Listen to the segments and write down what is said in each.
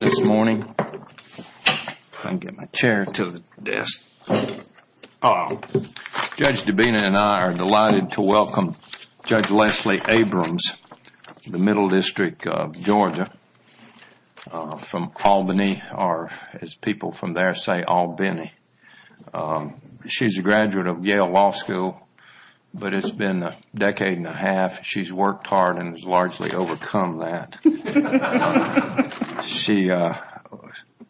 This morning, if I can get my chair to the desk, Judge Dabena and I are delighted to welcome Judge Leslie Abrams, the Middle District of Georgia, from Albany, or as people from there say, Albany. She's a graduate of Yale Law School, but it's been a decade and a half. She's worked hard and has largely overcome that. She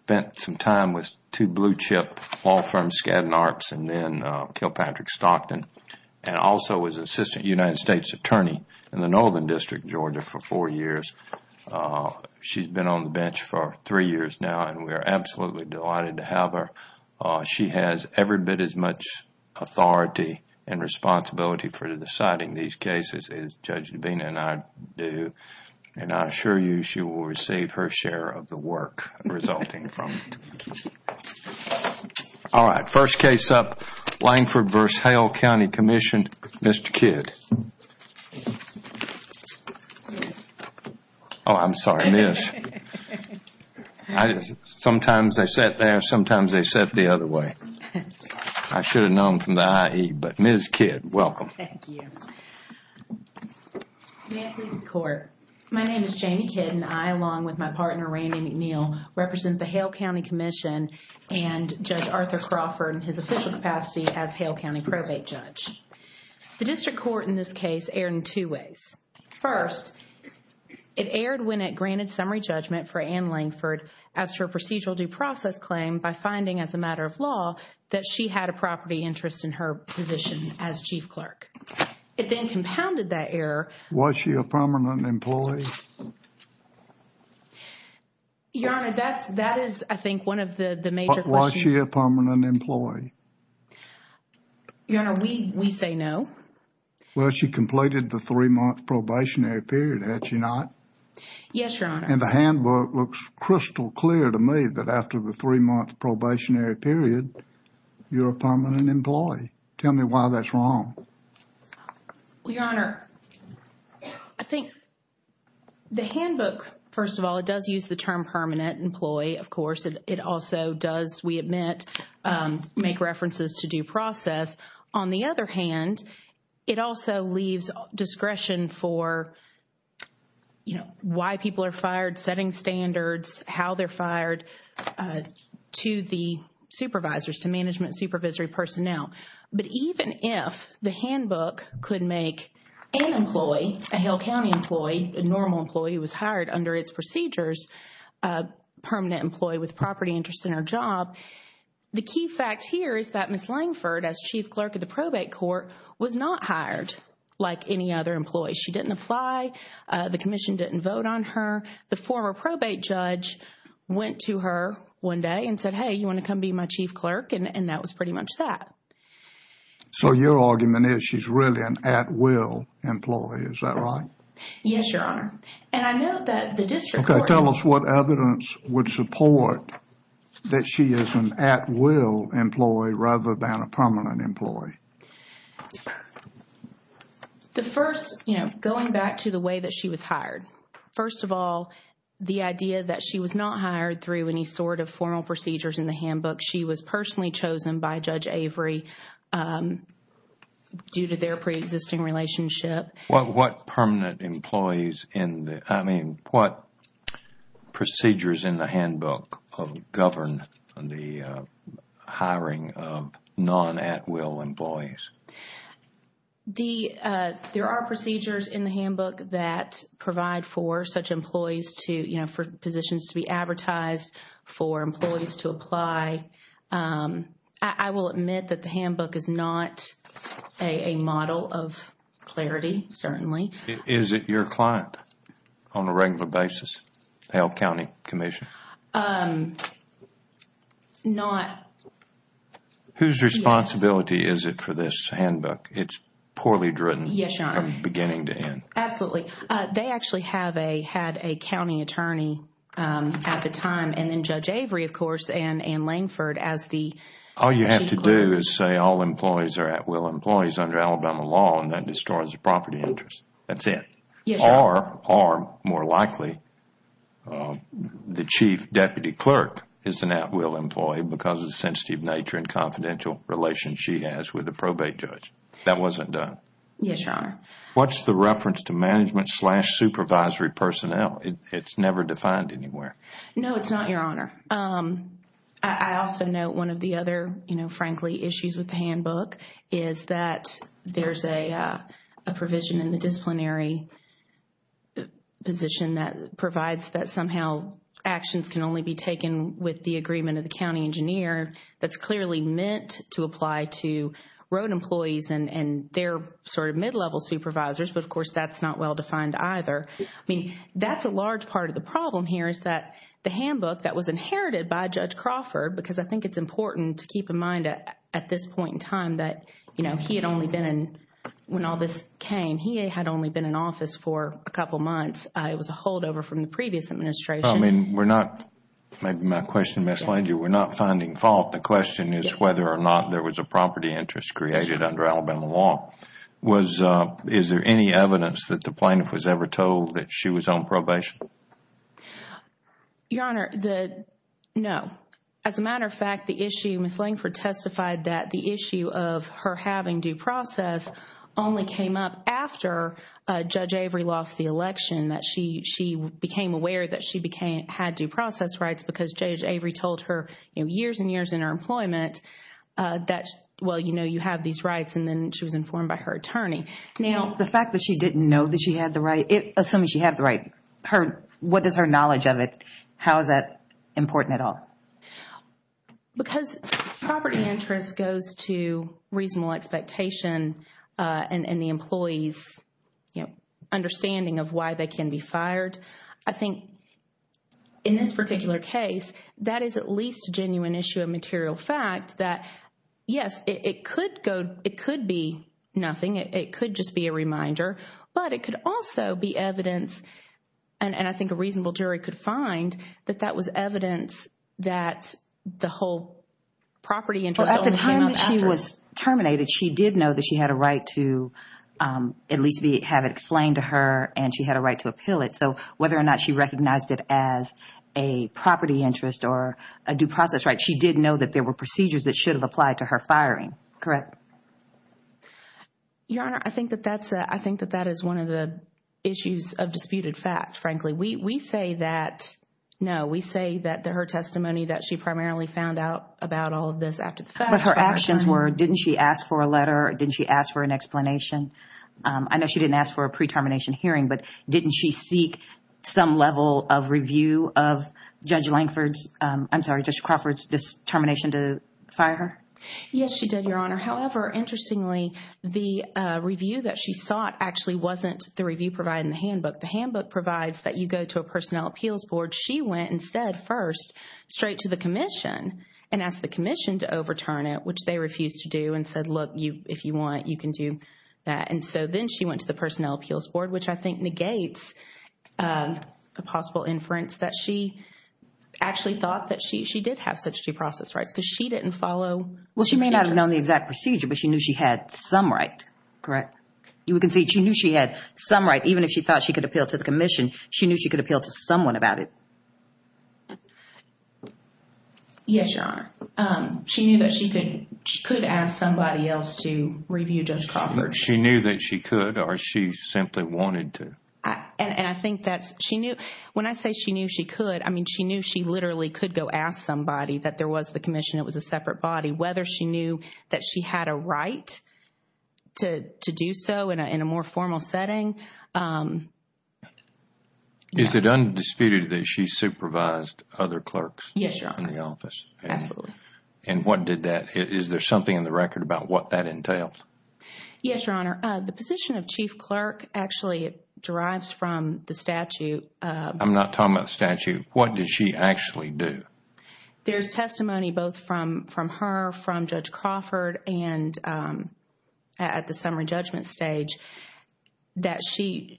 spent some time with two blue-chip law firms, Skadden Arps and Kilpatrick Stockton, and also was Assistant United States Attorney in the Northern District of Georgia for four years. She's been on the bench for three years now, and we are absolutely delighted to have her. She has every bit as much authority and responsibility for deciding these cases as Judge Dabena and I do, and I assure you she will receive her share of the work resulting from it. All right, first case up, Langford v. Hale County Commission, Mr. Kidd. Oh, I'm sorry, Miss. Sometimes they sit there, sometimes they sit the other way. I should have known from the IE, but Miss Kidd, welcome. Thank you. May I please be in court? My name is Jamie Kidd, and I, along with my partner Randy McNeil, represent the Hale County Commission and Judge Arthur Crawford in his official capacity as Hale County probate judge. The district court in this case erred in two ways. First, it erred when it granted summary judgment for Ann Langford as to her procedural due process claim by finding as a matter of law that she had a property interest in her position as chief clerk. It then compounded that error. Was she a permanent employee? Your Honor, that is, I think, one of the major questions. Was she a permanent employee? Your Honor, we say no. Well, she completed the three-month probationary period, had she not? Yes, Your Honor. And the handbook looks crystal clear to me that after the three-month probationary period, you're a permanent employee. Tell me why that's wrong. Well, Your Honor, I think the handbook, first of all, it does use the term permanent employee, of course. It also does, we admit, make references to due process. On the other hand, it also leaves discretion for, you know, why people are fired, setting standards, how they're fired to the supervisors, to management supervisory personnel. But even if the handbook could make an employee, a Hale County employee, a normal employee who was hired under its procedures, a permanent employee with property interest in her job, the key fact here is that Ms. Langford, as chief clerk of the probate court, was not hired like any other employee. She didn't apply. The commission didn't vote on her. The former probate judge went to her one day and said, hey, you want to come be my chief clerk? And that was pretty much that. So your argument is she's really an at-will employee, is that right? Yes, Your Honor. And I know that the district court- Okay, tell us what evidence would support that she is an at-will employee rather than a permanent employee. The first, you know, going back to the way that she was hired. First of all, the idea that she was not hired through any sort of formal procedures in the handbook. She was personally chosen by Judge Avery due to their pre-existing relationship. What permanent employees in the, I mean, what procedures in the handbook govern the hiring of non-at-will employees? The, there are procedures in the handbook that provide for such employees to, you know, for positions to be advertised, for employees to apply. I will admit that the handbook is not a model of clarity, certainly. Is it your client on a regular basis, the Elk County Commission? Not- Whose responsibility is it for this handbook? It's poorly driven from beginning to end. Yes, Your Honor. Absolutely. They actually had a county attorney at the time and then Judge Avery, of course, and Anne Langford as the chief clerk. All you have to do is say all employees are at-will employees under Alabama law and that distorts the property interest. That's it. Yes, Your Honor. Or, more likely, the chief deputy clerk is an at-will employee because of the sensitive nature and confidential relationship she has with the probate judge. That wasn't done. Yes, Your Honor. What's the reference to management slash supervisory personnel? It's never defined anywhere. No, it's not, Your Honor. I also note one of the other, you know, frankly, issues with the handbook is that there's a provision in the disciplinary position that provides that somehow actions can only be It's clearly meant to apply to road employees and their sort of mid-level supervisors, but of course, that's not well-defined either. I mean, that's a large part of the problem here is that the handbook that was inherited by Judge Crawford, because I think it's important to keep in mind at this point in time that, you know, he had only been in... when all this came, he had only been in office for a couple of months. It was a holdover from the previous administration. I mean, we're not... maybe my question misled you. We're not finding fault. The question is whether or not there was a property interest created under Alabama law. Is there any evidence that the plaintiff was ever told that she was on probation? Your Honor, the... no. As a matter of fact, the issue, Ms. Langford testified that the issue of her having due process only came up after Judge Avery lost the election, that she became aware that she had due process rights because Judge Avery told her, you know, years and years in her employment that, well, you know, you have these rights, and then she was informed by her attorney. Now... The fact that she didn't know that she had the right... assuming she had the right, what is her knowledge of it? How is that important at all? Because property interest goes to reasonable expectation and the employee's, you know, understanding of why they can be fired. I think in this particular case, that is at least a genuine issue of material fact that, yes, it could go... it could be nothing. It could just be a reminder, but it could also be evidence, and I think a reasonable jury could find that that was evidence that the whole property interest only came up after... Well, at the time that she was terminated, she did know that she had a right to at least have it explained to her and she had a right to appeal it. So, whether or not she recognized it as a property interest or a due process right, she did know that there were procedures that should have applied to her firing, correct? Your Honor, I think that that is one of the issues of disputed fact, frankly. We say that... no, we say that her testimony that she primarily found out about all of this after the fact... But her actions were, didn't she ask for a letter, didn't she ask for an explanation? I know she didn't ask for a pre-termination hearing, but didn't she seek some level of review of Judge Lankford's... I'm sorry, Judge Crawford's determination to fire her? Yes, she did, Your Honor. However, interestingly, the review that she sought actually wasn't the review provided in the handbook. The handbook provides that you go to a personnel appeals board. She went instead first straight to the Commission and asked the Commission to overturn it, which they refused to do and said, look, if you want, you can do that. And so then she went to the personnel appeals board, which I think negates a possible inference that she actually thought that she did have such due process rights because she didn't follow... Well, she may not have known the exact procedure, but she knew she had some right, correct? You can see she knew she had some right, even if she thought she could appeal to the Commission, Yes, Your Honor. She knew that she could ask somebody else to review Judge Crawford's... She knew that she could or she simply wanted to? And I think that's... she knew... when I say she knew she could, I mean, she knew she literally could go ask somebody that there was the Commission, it was a separate body. Whether she knew that she had a right to do so in a more formal setting... Is it undisputed that she supervised other clerks in the office? Absolutely. And what did that... is there something in the record about what that entails? Yes, Your Honor. The position of chief clerk actually derives from the statute... I'm not talking about the statute. What did she actually do? There's testimony both from her, from Judge Crawford, and at the summary judgment stage that she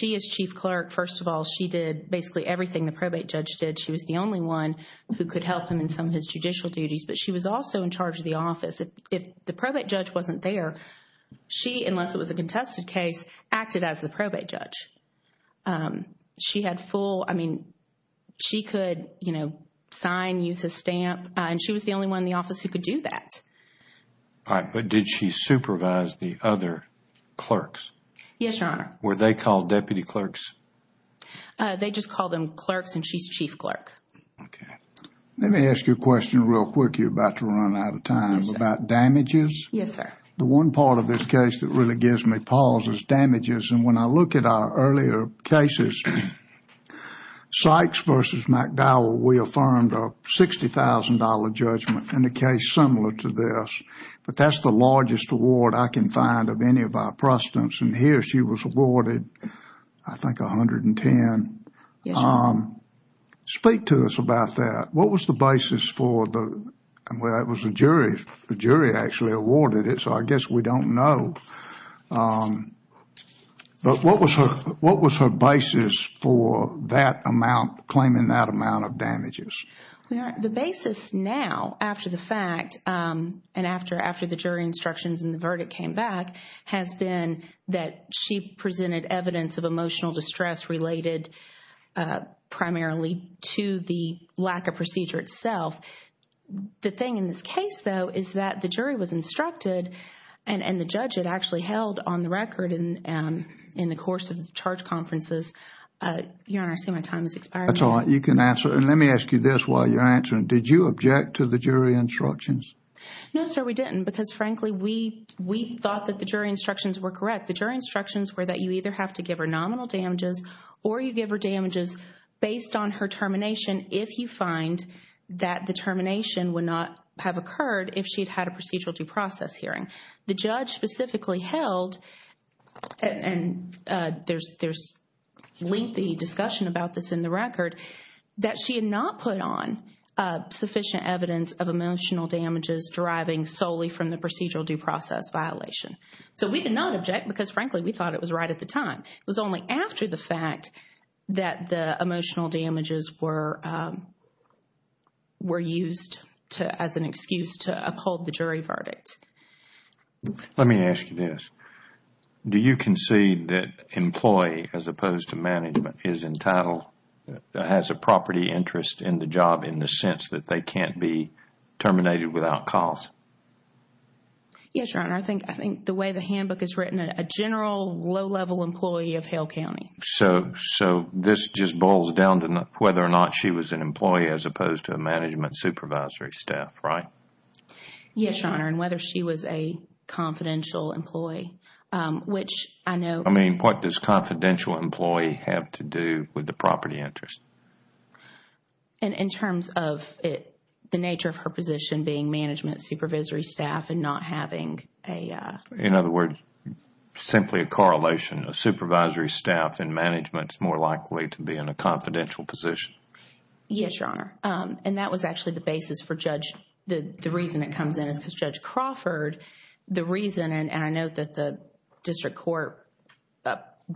is chief clerk. First of all, she did basically everything the probate judge did. She was the only one who could help him in some of his judicial duties, but she was also in charge of the office. If the probate judge wasn't there, she, unless it was a contested case, acted as the probate judge. She had full... I mean, she could, you know, sign, use his stamp, and she was the only one in the office who could do that. All right. But did she supervise the other clerks? Yes, Your Honor. Were they called deputy clerks? They just called them clerks, and she's chief clerk. Okay. Let me ask you a question real quick. You're about to run out of time. About damages? Yes, sir. The one part of this case that really gives me pause is damages. And when I look at our earlier cases, Sykes versus McDowell, we affirmed a $60,000 judgment in a case similar to this. But that's the largest award I can find of any of our prostitutes. And here, she was awarded, I think, $110,000. Yes, sir. Speak to us about that. What was the basis for the... well, it was the jury. The jury actually awarded it, so I guess we don't know. But what was her basis for that amount, claiming that amount of damages? The basis now, after the fact, and after the jury instructions and the verdict came back, has been that she presented evidence of emotional distress related primarily to the lack of procedure itself. The thing in this case, though, is that the jury was instructed, and the judge had actually held on the record in the course of the charge conferences. Your Honor, I see my time has expired. That's all right. You can answer. And let me ask you this while you're answering. Did you object to the jury instructions? No, sir, we didn't. Because frankly, we thought that the jury instructions were correct. The jury instructions were that you either have to give her nominal damages or you give her damages based on her termination if you find that the termination would not have occurred if she'd had a procedural due process hearing. The judge specifically held, and there's lengthy discussion about this in the record, that she had not put on sufficient evidence of emotional damages deriving solely from the procedural due process violation. So we did not object because frankly, we thought it was right at the time. It was only after the fact that the emotional damages were used as an excuse to uphold the jury verdict. Let me ask you this. Do you concede that employee as opposed to management is entitled, has a property interest in the job in the sense that they can't be terminated without cause? Yes, Your Honor. I think the way the handbook is written, a general low-level employee of Hale County. So this just boils down to whether or not she was an employee as opposed to a management supervisory staff, right? Yes, Your Honor. Whether she was a confidential employee, which I know- I mean, what does confidential employee have to do with the property interest? In terms of the nature of her position being management supervisory staff and not having a- In other words, simply a correlation. A supervisory staff in management is more likely to be in a confidential position. Yes, Your Honor. And that was actually the basis for Judge, the reason it comes in is because Judge Crawford, the reason, and I note that the district court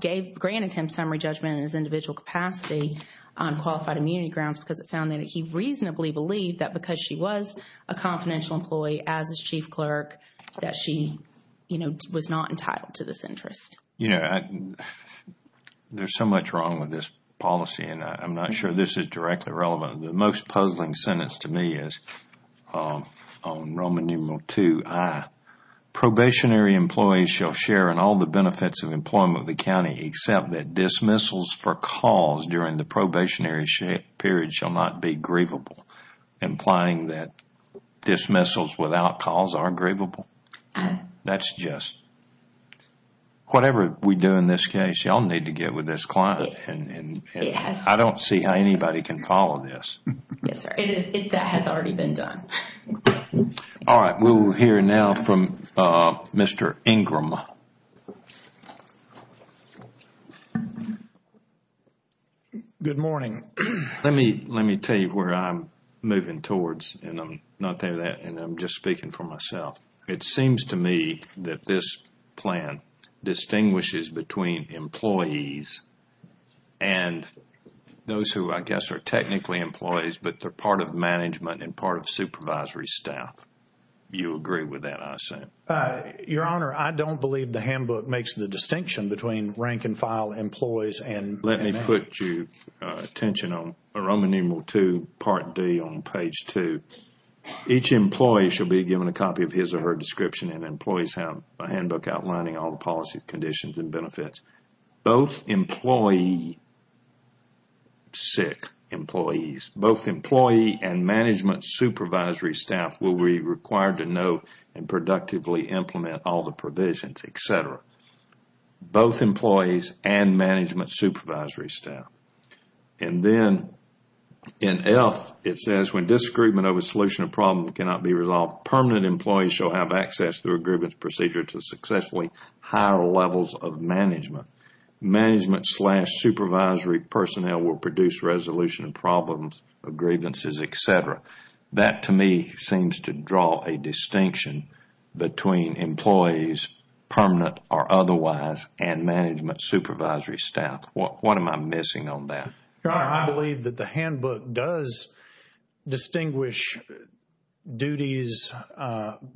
granted him summary judgment in his individual capacity on qualified immunity grounds because it found that he reasonably believed that because she was a confidential employee as his chief clerk, that she, you know, was not entitled to this interest. You know, there's so much wrong with this policy and I'm not sure this is directly relevant. The most puzzling sentence to me is on Roman numeral 2i, probationary employees shall share in all the benefits of employment of the county except that dismissals for cause during the probationary period shall not be grievable, implying that dismissals without cause are grievable. That's just- Whatever we do in this case, y'all need to get with this client and I don't see how anybody can follow this. Yes, sir. That has already been done. All right, we'll hear now from Mr. Ingram. Good morning. Let me tell you where I'm moving towards and I'm not there yet and I'm just speaking for myself. It seems to me that this plan distinguishes between employees and those who, I guess, are technically employees but they're part of management and part of supervisory staff. You agree with that, I assume? Your Honor, I don't believe the handbook makes the distinction between rank and file employees and- Let me put your attention on Roman numeral 2 part D on page 2. Each employee shall be given a copy of his or her description and employees have a handbook outlining all the policies, conditions, and benefits. Both employee- Sick employees. Both employee and management supervisory staff will be required to know and productively implement all the provisions, etc. Both employees and management supervisory staff. And then in F, it says, when disagreement over solution of problems cannot be resolved, permanent employees shall have access through a grievance procedure to successfully higher levels of management. Management slash supervisory personnel will produce resolution of problems, of grievances, etc. That, to me, seems to draw a distinction between employees, permanent or otherwise, and management supervisory staff. What am I missing on that? Your Honor, I believe that the handbook does distinguish duties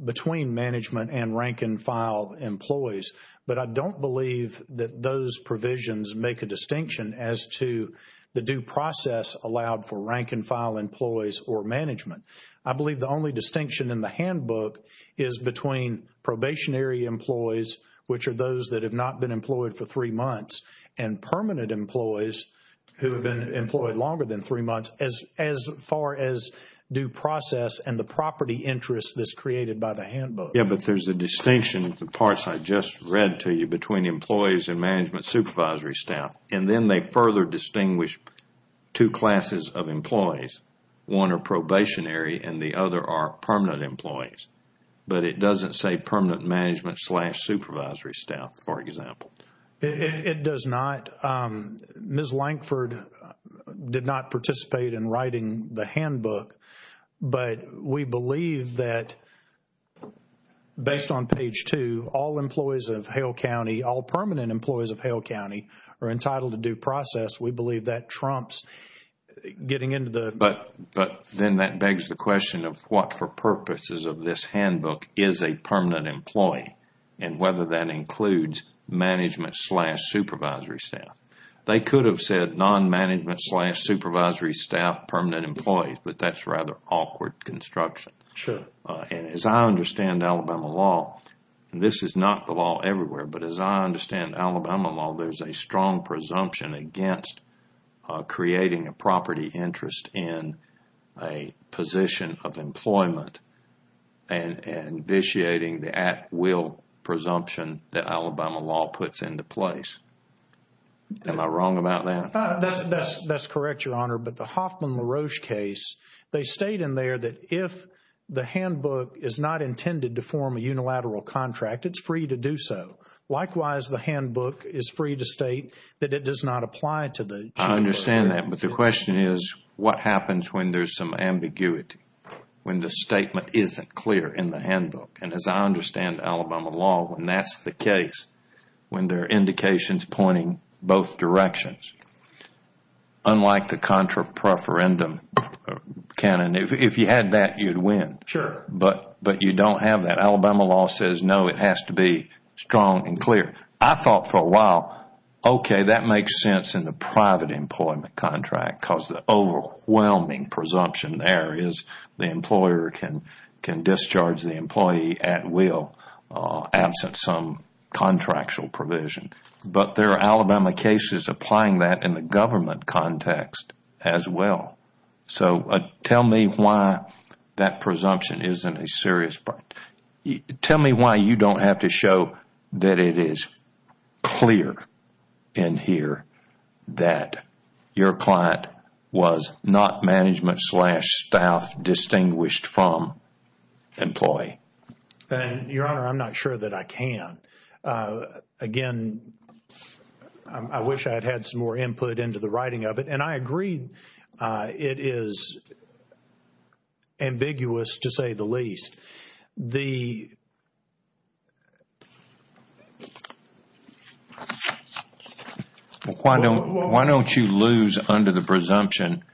between management and rank and file employees. But I don't believe that those provisions make a distinction as to the due process allowed for rank and file employees or management. I believe the only distinction in the handbook is between probationary employees, which are those that have not been employed for three months, and permanent employees who have been employed longer than three months as far as due process and the property interest that's created by the handbook. Yeah, but there's a distinction in the parts I just read to you between employees and management supervisory staff. And then they further distinguish two classes of employees. One are probationary and the other are permanent employees. But it doesn't say permanent management slash supervisory staff, for example. It does not. Ms. Lankford did not participate in writing the handbook. But we believe that based on page two, all employees of Hale County, all permanent employees of Hale County are entitled to due process. We believe that trumps getting into the... But then that begs the question of what for purposes of this handbook is a permanent employee and whether that includes management slash supervisory staff. They could have said non-management slash supervisory staff permanent employees, but that's rather awkward construction. Sure. And as I understand Alabama law, and this is not the law everywhere, but as I understand Alabama law, there's a strong presumption against creating a property interest in a position of employment and vitiating the at-will presumption that Alabama law puts into place. Am I wrong about that? That's correct, Your Honor. But the Hoffman-LaRoche case, they state in there that if the handbook is not intended to form a unilateral contract, it's free to do so. Likewise, the handbook is free to state that it does not apply to the... I understand that, but the question is what happens when there's some ambiguity, when the statement isn't clear in the handbook? And as I understand Alabama law, when that's the case, when there are indications pointing both directions, unlike the contra-preferendum canon, if you had that, you'd win. Sure. But you don't have that. Alabama law says no, it has to be strong and clear. I thought for a while, okay, that makes sense in the private employment contract because the overwhelming presumption there is the employer can discharge the employee at will absent some contractual provision. But there are Alabama cases applying that in the government context as well. So tell me why that presumption isn't a serious... Tell me why you don't have to show that it is clear in here that your client was not management slash staff distinguished from employee. Your Honor, I'm not sure that I can. Again, I wish I'd had some more input into the writing of it. I agree it is ambiguous to say the least. Why don't you lose under the presumption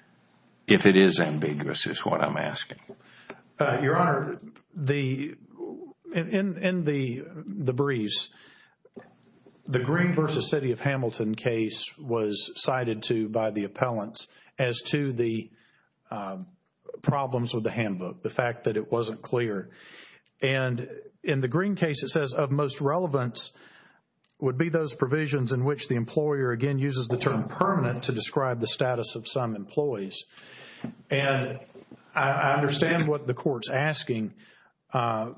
if it is ambiguous is what I'm asking. Your Honor, in the briefs, the Green versus City of Hamilton case was cited to by the appellants as to the problems with the handbook, the fact that it wasn't clear. And in the Green case, it says of most relevance would be those provisions in which the employer again uses the term permanent to describe the status of some employees. And I understand what the court's asking. But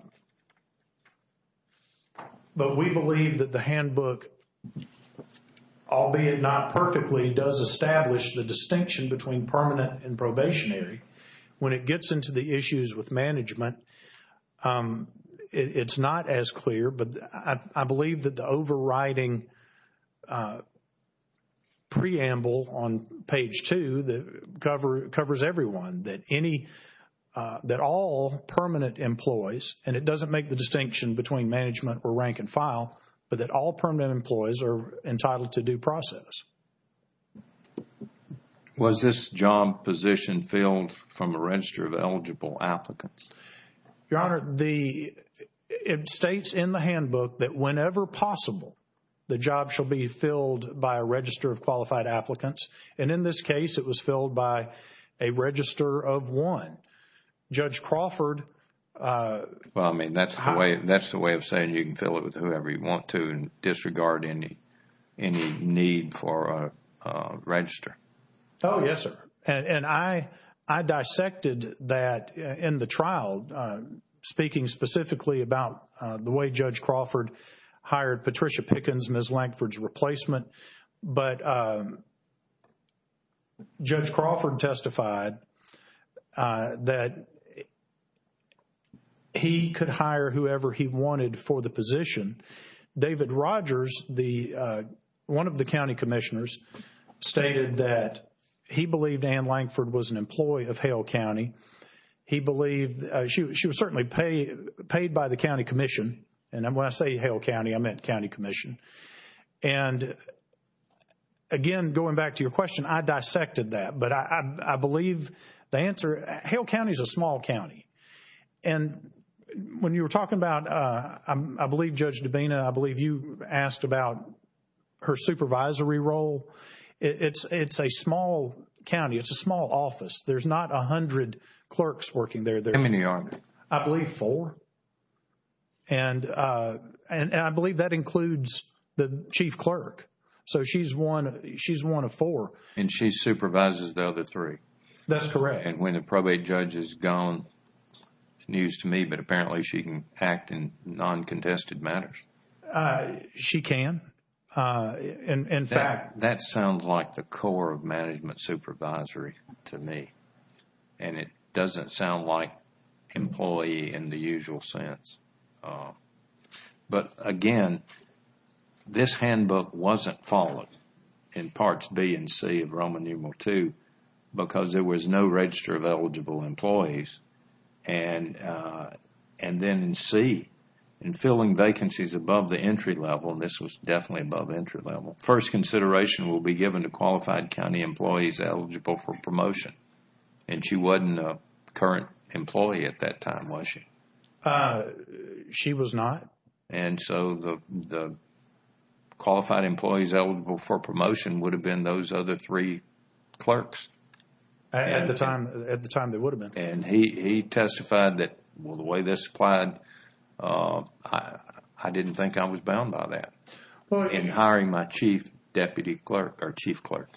we believe that the handbook, albeit not perfectly, does establish the distinction between permanent and probationary. When it gets into the issues with management, it's not as clear. But I believe that the overriding preamble on page two that covers everyone, that any, that all permanent employees, and it doesn't make the distinction between management or rank and file, but that all permanent employees are entitled to due process. Was this job position filled from a register of eligible applicants? Your Honor, it states in the handbook that whenever possible, the job shall be filled by a register of qualified applicants. And in this case, it was filled by a register of one. Judge Crawford... Well, I mean, that's the way of saying you can fill it with whoever you want to and disregard any need for a register. Oh, yes, sir. And I dissected that in the trial, speaking specifically about the way Judge Crawford hired Patricia Pickens and Ms. Lankford's replacement. But Judge Crawford testified that he could hire whoever he wanted for the position. David Rogers, one of the county commissioners, stated that he believed Ann Lankford was an employee of Hale County. He believed, she was certainly paid by the county commission. And when I say Hale County, I meant county commission. And again, going back to your question, I dissected that. But I believe the answer, Hale County is a small county. And when you were talking about, I believe, Judge Dabena, I believe you asked about her supervisory role. It's a small county. It's a small office. There's not a hundred clerks working there. How many are there? I believe four. And I believe that includes the chief clerk. So she's one of four. And she supervises the other three. That's correct. And when the probate judge is gone, it's news to me, but apparently she can act in non-contested matters. She can, in fact. That sounds like the core of management supervisory to me. And it doesn't sound like employee in the usual sense. But again, this handbook wasn't followed in parts B and C of Roman numeral II because there was no register of eligible employees. And then in C, in filling vacancies above the entry level, this was definitely above entry level. First consideration will be given to qualified county employees eligible for promotion. And she wasn't a current employee at that time, was she? She was not. And so the qualified employees eligible for promotion would have been those other three clerks. At the time, they would have been. And he testified that, well, the way this applied, I didn't think I was bound by that in hiring my chief deputy clerk or chief clerk.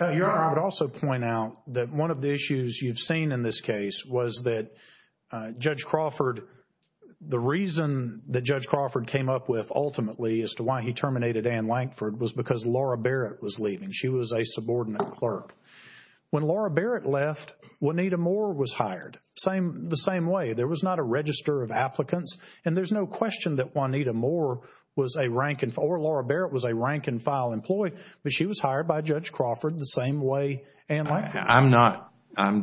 Your Honor, I would also point out that one of the issues you've seen in this case was that Judge Crawford, the reason that Judge Crawford came up with ultimately as to why he terminated Ann Lankford was because Laura Barrett was leaving. She was a subordinate clerk. When Laura Barrett left, Juanita Moore was hired the same way. There was not a register of applicants. And there's no question that Juanita Moore was a rank or Laura Barrett was a rank and she was hired by Judge Crawford the same way Ann Lankford was. I'm not,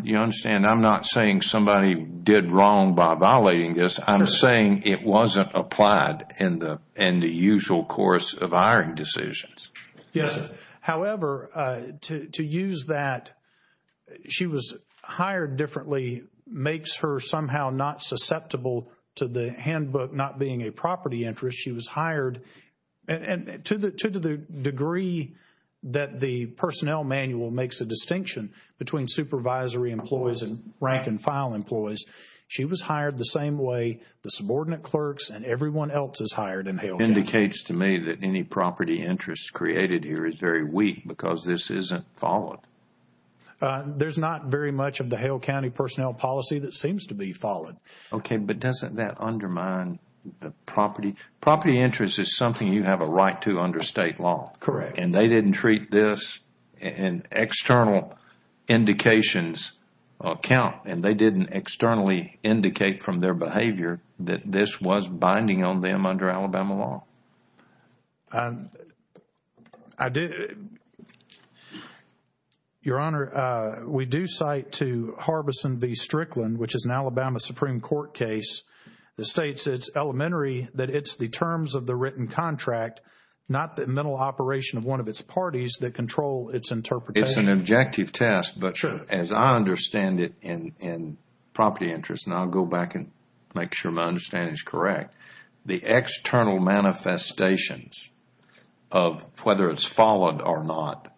you understand, I'm not saying somebody did wrong by violating this. I'm saying it wasn't applied in the usual course of hiring decisions. Yes. However, to use that she was hired differently makes her somehow not susceptible to the handbook not being a property interest. She was hired and to the degree that the personnel manual makes a distinction between supervisory employees and rank and file employees. She was hired the same way the subordinate clerks and everyone else is hired in Hale County. Indicates to me that any property interest created here is very weak because this isn't followed. There's not very much of the Hale County personnel policy that seems to be followed. Okay. But doesn't that undermine the property? Property interest is something you have a right to under state law. Correct. And they didn't treat this in external indications account and they didn't externally indicate from their behavior that this was binding on them under Alabama law. I do. Your Honor, we do cite to Harbison v. Strickland, which is an Alabama Supreme Court case, that states it's elementary that it's the terms of the written contract, not the mental operation of one of its parties that control its interpretation. It's an objective test, but as I understand it in property interest, and I'll go back and make sure my understanding is correct, the external manifestations of whether it's followed or not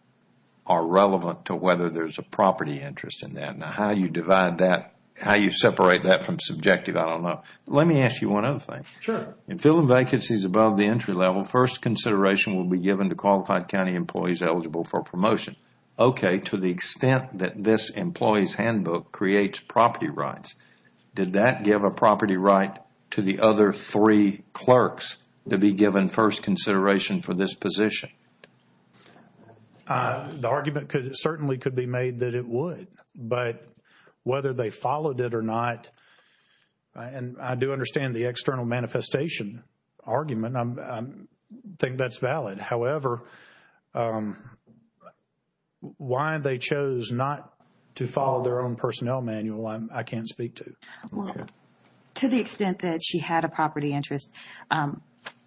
are relevant to whether there's a property interest in that. Now, how you divide that, how you separate that from subjective, I don't know. Let me ask you one other thing. Sure. In filling vacancies above the entry level, first consideration will be given to qualified county employees eligible for promotion. Okay. To the extent that this employee's handbook creates property rights, did that give a property right to the other three clerks to be given first consideration for this position? The argument certainly could be made that it would, but whether they followed it or not, and I do understand the external manifestation argument, I think that's valid. However, why they chose not to follow their own personnel manual, I can't speak to. Well, to the extent that she had a property interest,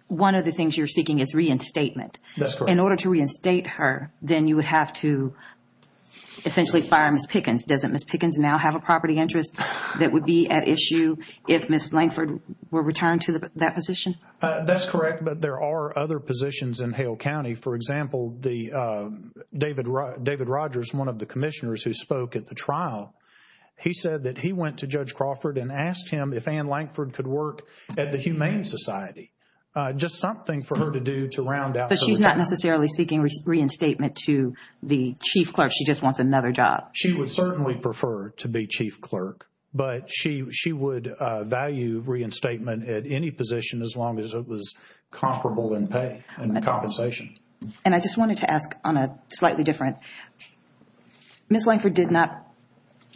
one of the things you're seeking is reinstatement. That's correct. In order to reinstate her, then you would have to essentially fire Ms. Pickens. Doesn't Ms. Pickens now have a property interest that would be at issue if Ms. Langford were returned to that position? That's correct, but there are other positions in Hale County. For example, David Rogers, one of the commissioners who spoke at the trial, he said that he went to Judge Crawford and asked him if Ann Langford could work at the Humane Society, just something for her to do to round out. But she's not necessarily seeking reinstatement to the chief clerk. She just wants another job. She would certainly prefer to be chief clerk, but she would value reinstatement at any position as long as it was comparable in pay and compensation. And I just wanted to ask on a slightly different. Ms. Langford did not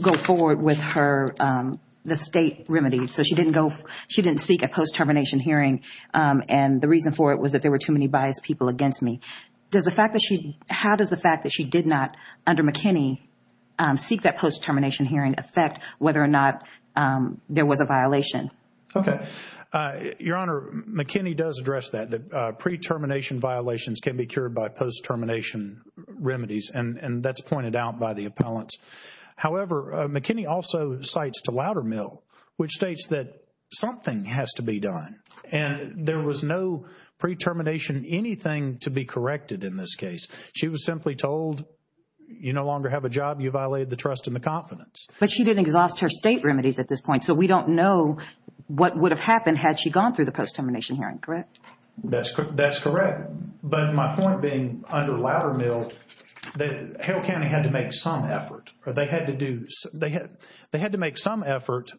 go forward with the state remedy. So she didn't seek a post-termination hearing. And the reason for it was that there were too many biased people against me. How does the fact that she did not, under McKinney, seek that post-termination hearing affect whether or not there was a violation? Okay. Your Honor, McKinney does address that. That pre-termination violations can be cured by post-termination remedies, and that's pointed out by the appellants. However, McKinney also cites to Loudermill, which states that something has to be done. And there was no pre-termination anything to be corrected in this case. She was simply told, you no longer have a job. You violated the trust and the confidence. But she didn't exhaust her state remedies at this point. So we don't know what would have happened had she gone through the post-termination hearing. Correct? That's correct. But my point being under Loudermill, that Hale County had to make some effort. They had to make some effort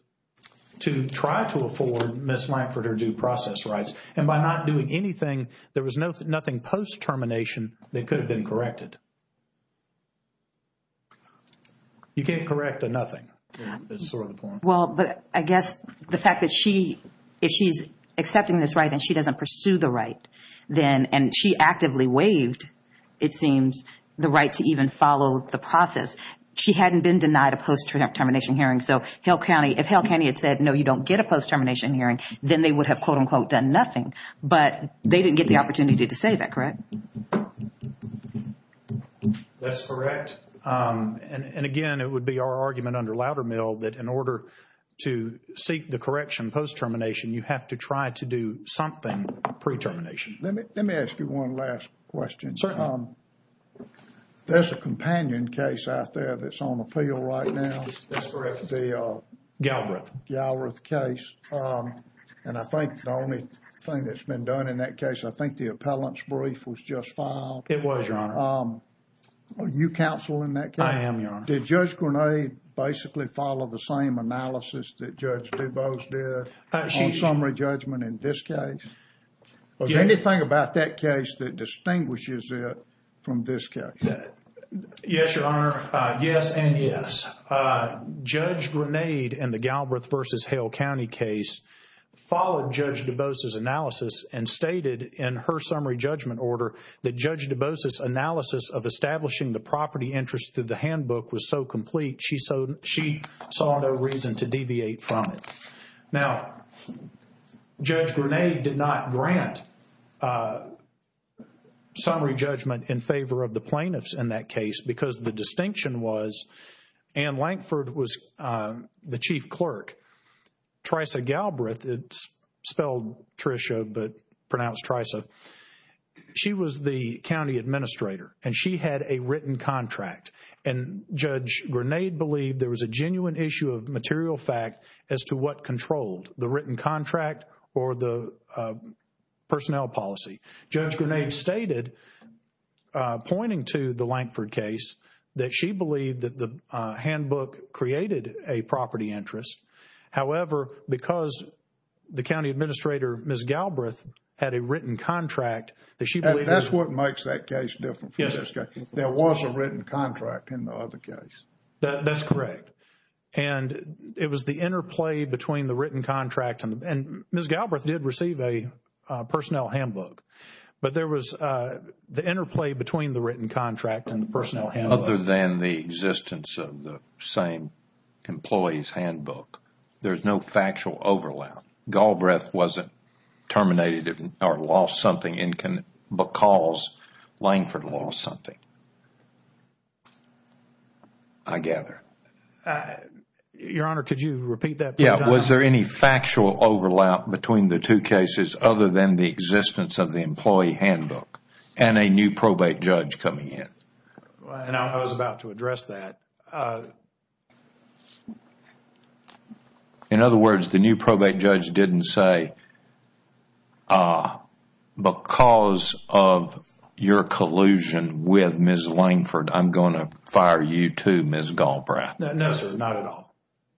to try to afford Ms. Langford her due process rights. And by not doing anything, there was nothing post-termination that could have been corrected. You can't correct a nothing. That's sort of the point. Well, but I guess the fact that she, if she's accepting this right and she doesn't pursue the right, then, and she actively waived, it seems, the right to even follow the process. She hadn't been denied a post-termination hearing. So Hale County, if Hale County had said, no, you don't get a post-termination hearing, then they would have, quote unquote, done nothing. But they didn't get the opportunity to say that, correct? That's correct. And again, it would be our argument under Loudermill that in order to seek the correction post-termination, you have to try to do something pre-termination. Let me, let me ask you one last question. There's a companion case out there that's on appeal right now. That's correct. The Galbraith case. And I think the only thing that's been done in that case, I think the appellant's brief was just filed. It was, Your Honor. Are you counsel in that case? I am, Your Honor. Did Judge Grenade basically follow the same analysis that Judge DuBose did on summary judgment in this case? Was there anything about that case that distinguishes it from this case? Yes, Your Honor. Yes and yes. Judge Grenade in the Galbraith versus Hale County case followed Judge DuBose's analysis and stated in her summary judgment order that Judge DuBose's analysis of establishing the property interest through the handbook was so complete, she saw no reason to deviate from it. Now, Judge Grenade did not grant summary judgment in favor of the plaintiffs in that case because the distinction was Ann Lankford was the chief clerk. Trisha Galbraith, it's spelled Trisha but pronounced Trisha, she was the county administrator and she had a written contract. And Judge Grenade believed there was a genuine issue of material fact as to what controlled the written contract or the personnel policy. Judge Grenade stated, pointing to the Lankford case, that she believed that the handbook created a property interest. However, because the county administrator, Ms. Galbraith, had a written contract that she believed... That's what makes that case different from this case. There was a written contract in the other case. That's correct. And it was the interplay between the written contract and Ms. Galbraith did receive a But there was the interplay between the written contract and the personnel handbook. Other than the existence of the same employee's handbook, there's no factual overlap. Galbraith wasn't terminated or lost something because Lankford lost something. I gather. Your Honor, could you repeat that? Yeah. Was there any factual overlap between the two cases other than the existence of the employee handbook and a new probate judge coming in? And I was about to address that. In other words, the new probate judge didn't say, because of your collusion with Ms. Lankford, I'm going to fire you too, Ms. Galbraith. No, sir. Not at all.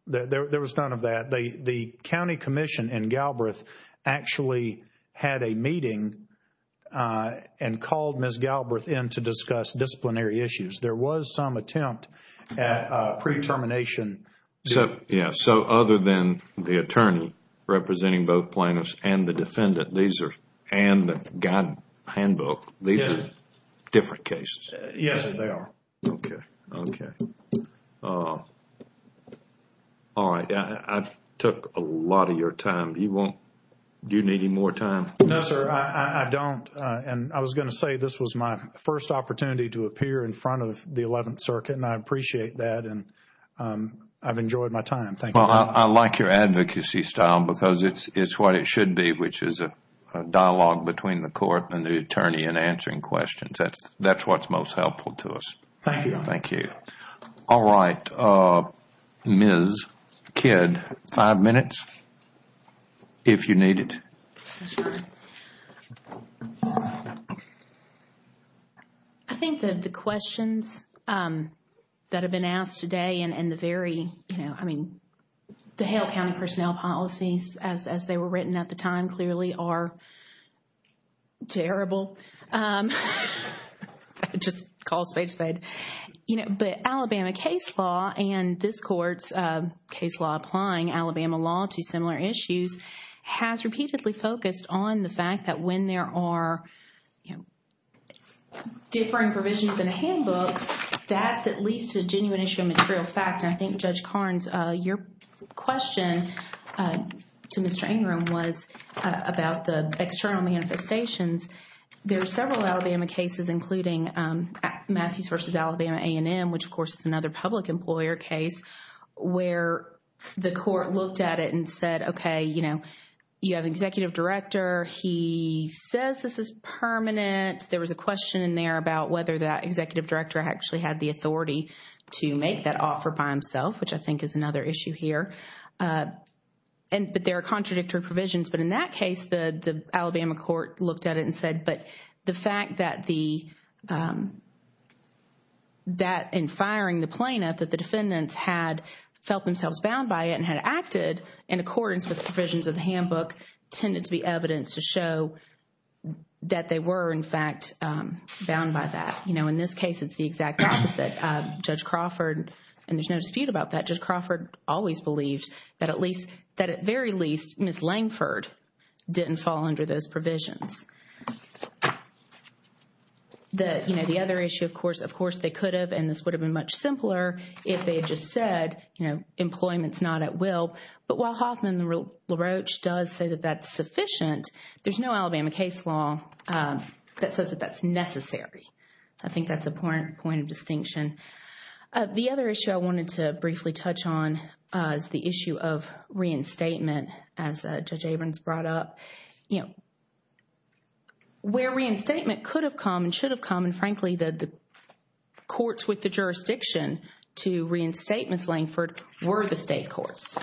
There was none of that. The county commission and Galbraith actually had a meeting and called Ms. Galbraith in to discuss disciplinary issues. There was some attempt at pre-termination. Other than the attorney representing both plaintiffs and the defendant, and the guide handbook, these are different cases. Yes, they are. Okay, okay. All right. I took a lot of your time. Do you need any more time? No, sir, I don't. And I was going to say this was my first opportunity to appear in front of the 11th Circuit and I appreciate that and I've enjoyed my time. Thank you. Well, I like your advocacy style because it's what it should be, which is a dialogue between the court and the attorney in answering questions. That's what's most helpful to us. Thank you. All right. Ms. Kidd, five minutes if you need it. I think that the questions that have been asked today and the very, you know, I mean, the Hale County personnel policies as they were written at the time clearly are terrible. I just called a spade a spade. You know, but Alabama case law and this court's case law applying Alabama law to similar issues has repeatedly focused on the fact that when there are, you know, differing provisions in a handbook, that's at least a genuine issue of material fact. And I think Judge Carnes, your question to Mr. Ingram was about the external manifestations. There are several Alabama cases, including Matthews versus Alabama A&M, which of course is another public employer case, where the court looked at it and said, okay, you know, you have an executive director. He says this is permanent. There was a question in there about whether that executive director actually had the authority to make that offer by himself, which I think is another issue here. But there are contradictory provisions. But in that case, the Alabama court looked at it and said, but the fact that in firing the plaintiff that the defendants had felt themselves bound by it and had acted in accordance with the provisions of the handbook tended to be evidence to show that they were in fact bound by that. You know, in this case, it's the exact opposite. Judge Crawford, and there's no dispute about that, Judge Crawford always believed that that at very least Ms. Langford didn't fall under those provisions. That, you know, the other issue, of course, they could have, and this would have been much simpler if they had just said, you know, employment's not at will. But while Hoffman and LaRoche does say that that's sufficient, there's no Alabama case law that says that that's necessary. I think that's a point of distinction. The other issue I wanted to briefly touch on is the issue of reinstatement. As Judge Abrams brought up, you know, where reinstatement could have come and should have come, and frankly, the courts with the jurisdiction to reinstate Ms. Langford were the state courts.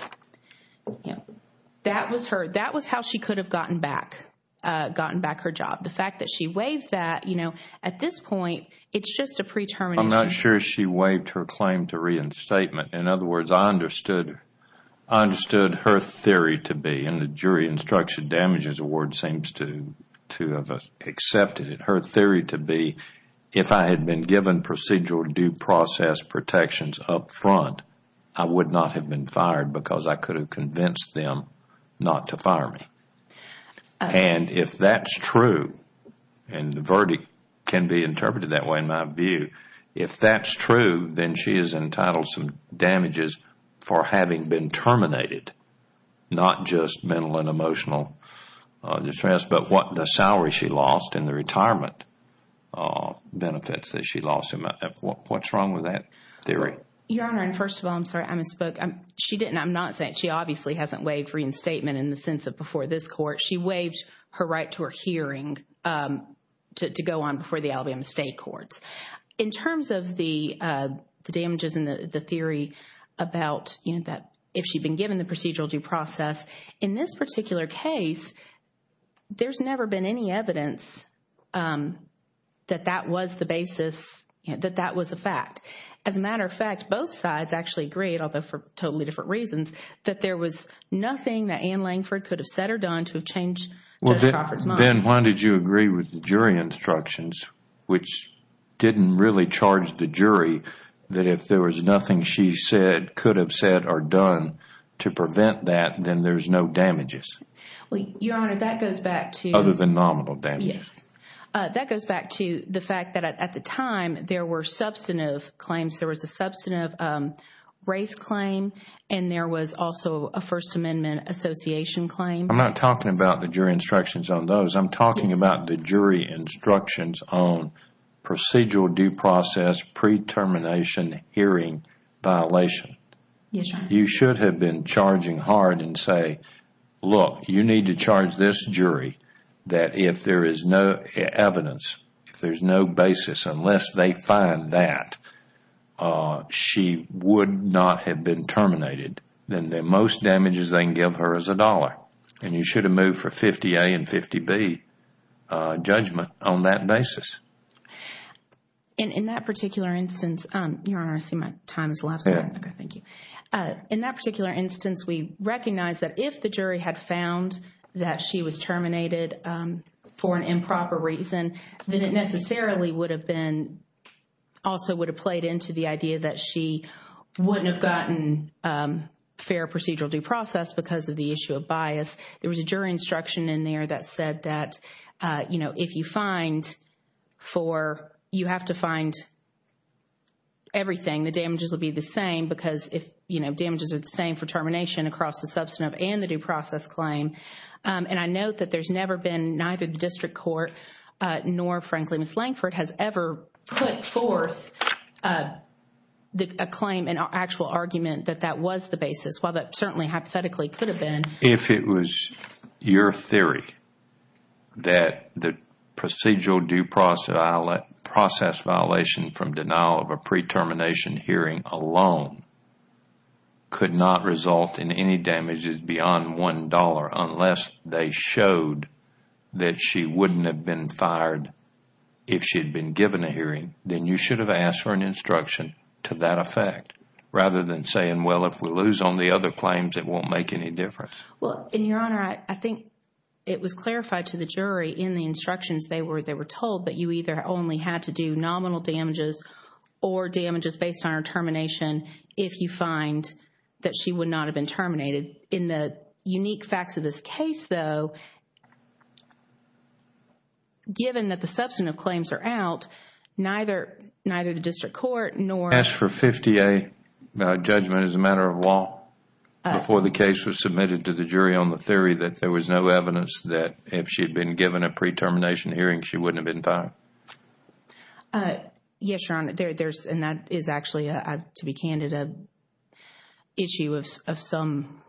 That was her, that was how she could have gotten back, gotten back her job. The fact that she waived that, you know, at this point, it's just a pretermination. I'm not sure she waived her claim to reinstatement. In other words, I understood her theory to be, and the Jury Instruction Damages Award seems to have accepted it, her theory to be, if I had been given procedural due process protections up front, I would not have been fired because I could have convinced them not to fire me. And if that's true, and the verdict can be interpreted that way in my view, if that's true, then she is entitled some damages for having been terminated, not just mental and emotional distress, but the salary she lost and the retirement benefits that she lost. What's wrong with that theory? Your Honor, first of all, I'm sorry, I misspoke. She didn't, I'm not saying, she obviously hasn't waived reinstatement in the sense of before this Court. She waived her right to her hearing to go on before the Alabama State Courts. In terms of the damages and the theory about, you know, that if she'd been given the procedural due process, in this particular case, there's never been any evidence that that was the basis, that that was a fact. As a matter of fact, both sides actually agreed, although for totally different reasons, that there was nothing that Ann Langford could have said or done to change Judge Crawford's mind. Then why did you agree with the jury instructions, which didn't really charge the jury, that if there was nothing she said, could have said or done to prevent that, then there's no damages? Your Honor, that goes back to- Other than nominal damages. Yes. That goes back to the fact that at the time, there were substantive claims. There was a substantive race claim and there was also a First Amendment association claim. I'm not talking about the jury instructions on those. I'm talking about the jury instructions on procedural due process, pre-termination hearing violation. Yes, Your Honor. You should have been charging hard and say, look, you need to charge this jury that if there is no evidence, if there's no basis, unless they find that she would not have been terminated, then the most damages they can give her is a dollar. You should have moved for 50A and 50B judgment on that basis. In that particular instance, Your Honor, I see my time has elapsed. Okay, thank you. In that particular instance, we recognize that if the jury had found that she was terminated for an improper reason, then it necessarily would have been, also would have played into the idea that she wouldn't have gotten fair procedural due process because of the issue of bias. There was a jury instruction in there that said that, you know, if you find for, you have to find everything, the damages will be the same because if, you know, damages are the same for termination across the substantive and the due process claim. And I note that there's never been, neither the district court nor, frankly, Ms. Langford has ever put forth a claim, an actual argument that that was the basis. While that certainly hypothetically could have been. If it was your theory that the procedural due process violation from denial of a pre-termination hearing alone could not result in any damages beyond $1 unless they showed that she wouldn't have been fired if she had been given a hearing, then you should have asked for an instruction to that effect, rather than saying, well, if we lose on the other claims, it won't make any difference. Well, Your Honor, I think it was clarified to the jury in the instructions they were told that you either only had to do nominal damages or damages based on her termination if you find that she would not have been terminated. In the unique facts of this case, though, given that the substantive claims are out, neither the district court nor... As for 50A judgment as a matter of law, before the case was submitted to the jury on the theory that there was no evidence that if she had been given a pre-termination hearing, she wouldn't have been fired? Yes, Your Honor. And that is actually, to be candid, an issue of some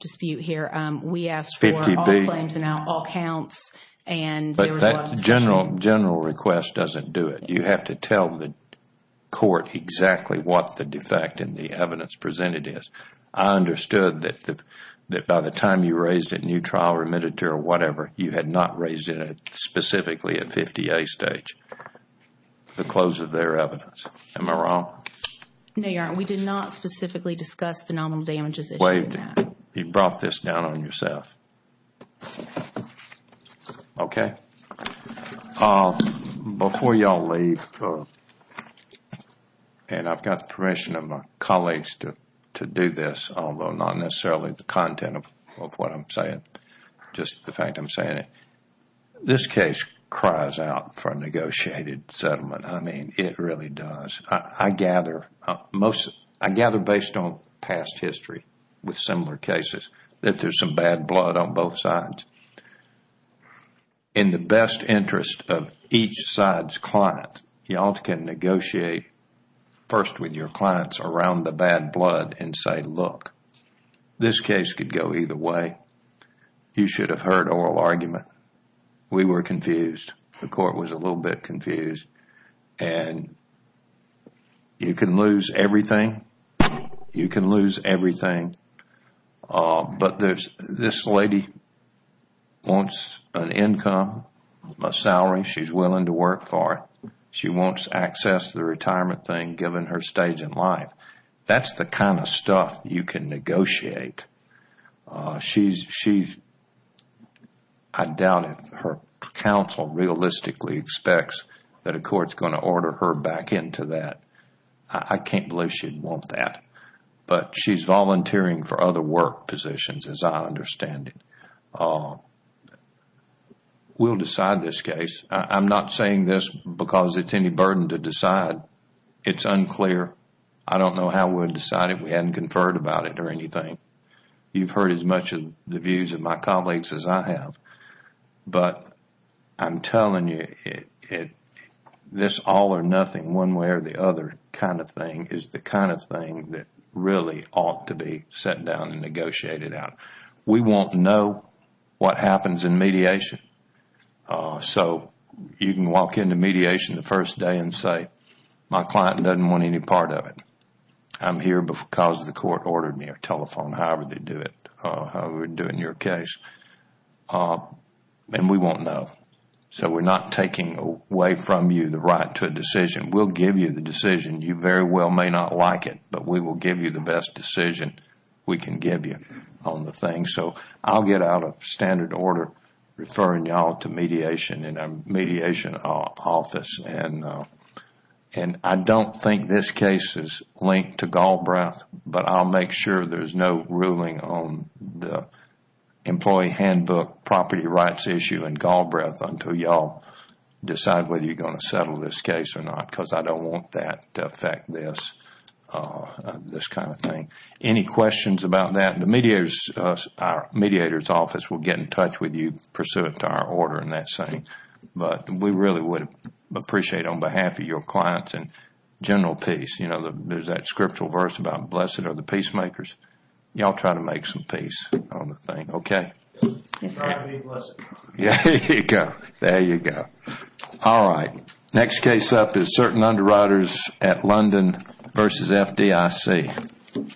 dispute here. We asked for all claims and all counts and... But that general request doesn't do it. You have to tell the court exactly what the defect in the evidence presented is. I understood that by the time you raised it and you trial remitted to her or whatever, you had not raised it specifically at 50A stage, the close of their evidence. Am I wrong? No, Your Honor. We did not specifically discuss the nominal damages issue in that. You brought this down on yourself. Okay. Before you all leave, and I've got the permission of my colleagues to do this, although not necessarily the content of what I'm saying, just the fact I'm saying it. This case cries out for a negotiated settlement. I mean, it really does. I gather based on past history with similar cases that there's some bad blood on both sides. In the best interest of each side's client, you all can negotiate first with your clients around the bad blood and say, look, this case could go either way. You should have heard oral argument. We were confused. The court was a little bit confused and you can lose everything. You can lose everything. But this lady wants an income, a salary. She's willing to work for it. She wants access to the retirement thing given her stage in life. That's the kind of stuff you can negotiate. I doubt if her counsel realistically expects that a court's going to order her back into that. I can't believe she'd want that. She's volunteering for other work positions as I understand it. We'll decide this case. I'm not saying this because it's any burden to decide. It's unclear. I don't know how we would decide if we hadn't conferred about it or anything. You've heard as much of the views of my colleagues as I have. But I'm telling you, this all or nothing one way or the other kind of thing is the kind of thing that really ought to be set down and negotiated out. We won't know what happens in mediation. So you can walk into mediation the first day and say, my client doesn't want any part of it. I'm here because the court ordered me or telephoned however they do it, however they do it in your case. And we won't know. So we're not taking away from you the right to a decision. We'll give you the decision. You very well may not like it, but we will give you the best decision we can give you on the thing. I'll get out of standard order referring y'all to mediation in our mediation office. I don't think this case is linked to Galbraith, but I'll make sure there's no ruling on the employee handbook, property rights issue in Galbraith until y'all decide whether you're going to settle this case or not because I don't want that to affect this kind of thing. Any questions about that? The mediator's office will get in touch with you pursuant to our order and that same. But we really would appreciate on behalf of your clients and general peace. You know, there's that scriptural verse about blessed are the peacemakers. Y'all try to make some peace on the thing. Okay? There you go. All right. Next case up is certain underwriters at London versus FDIC. Okay.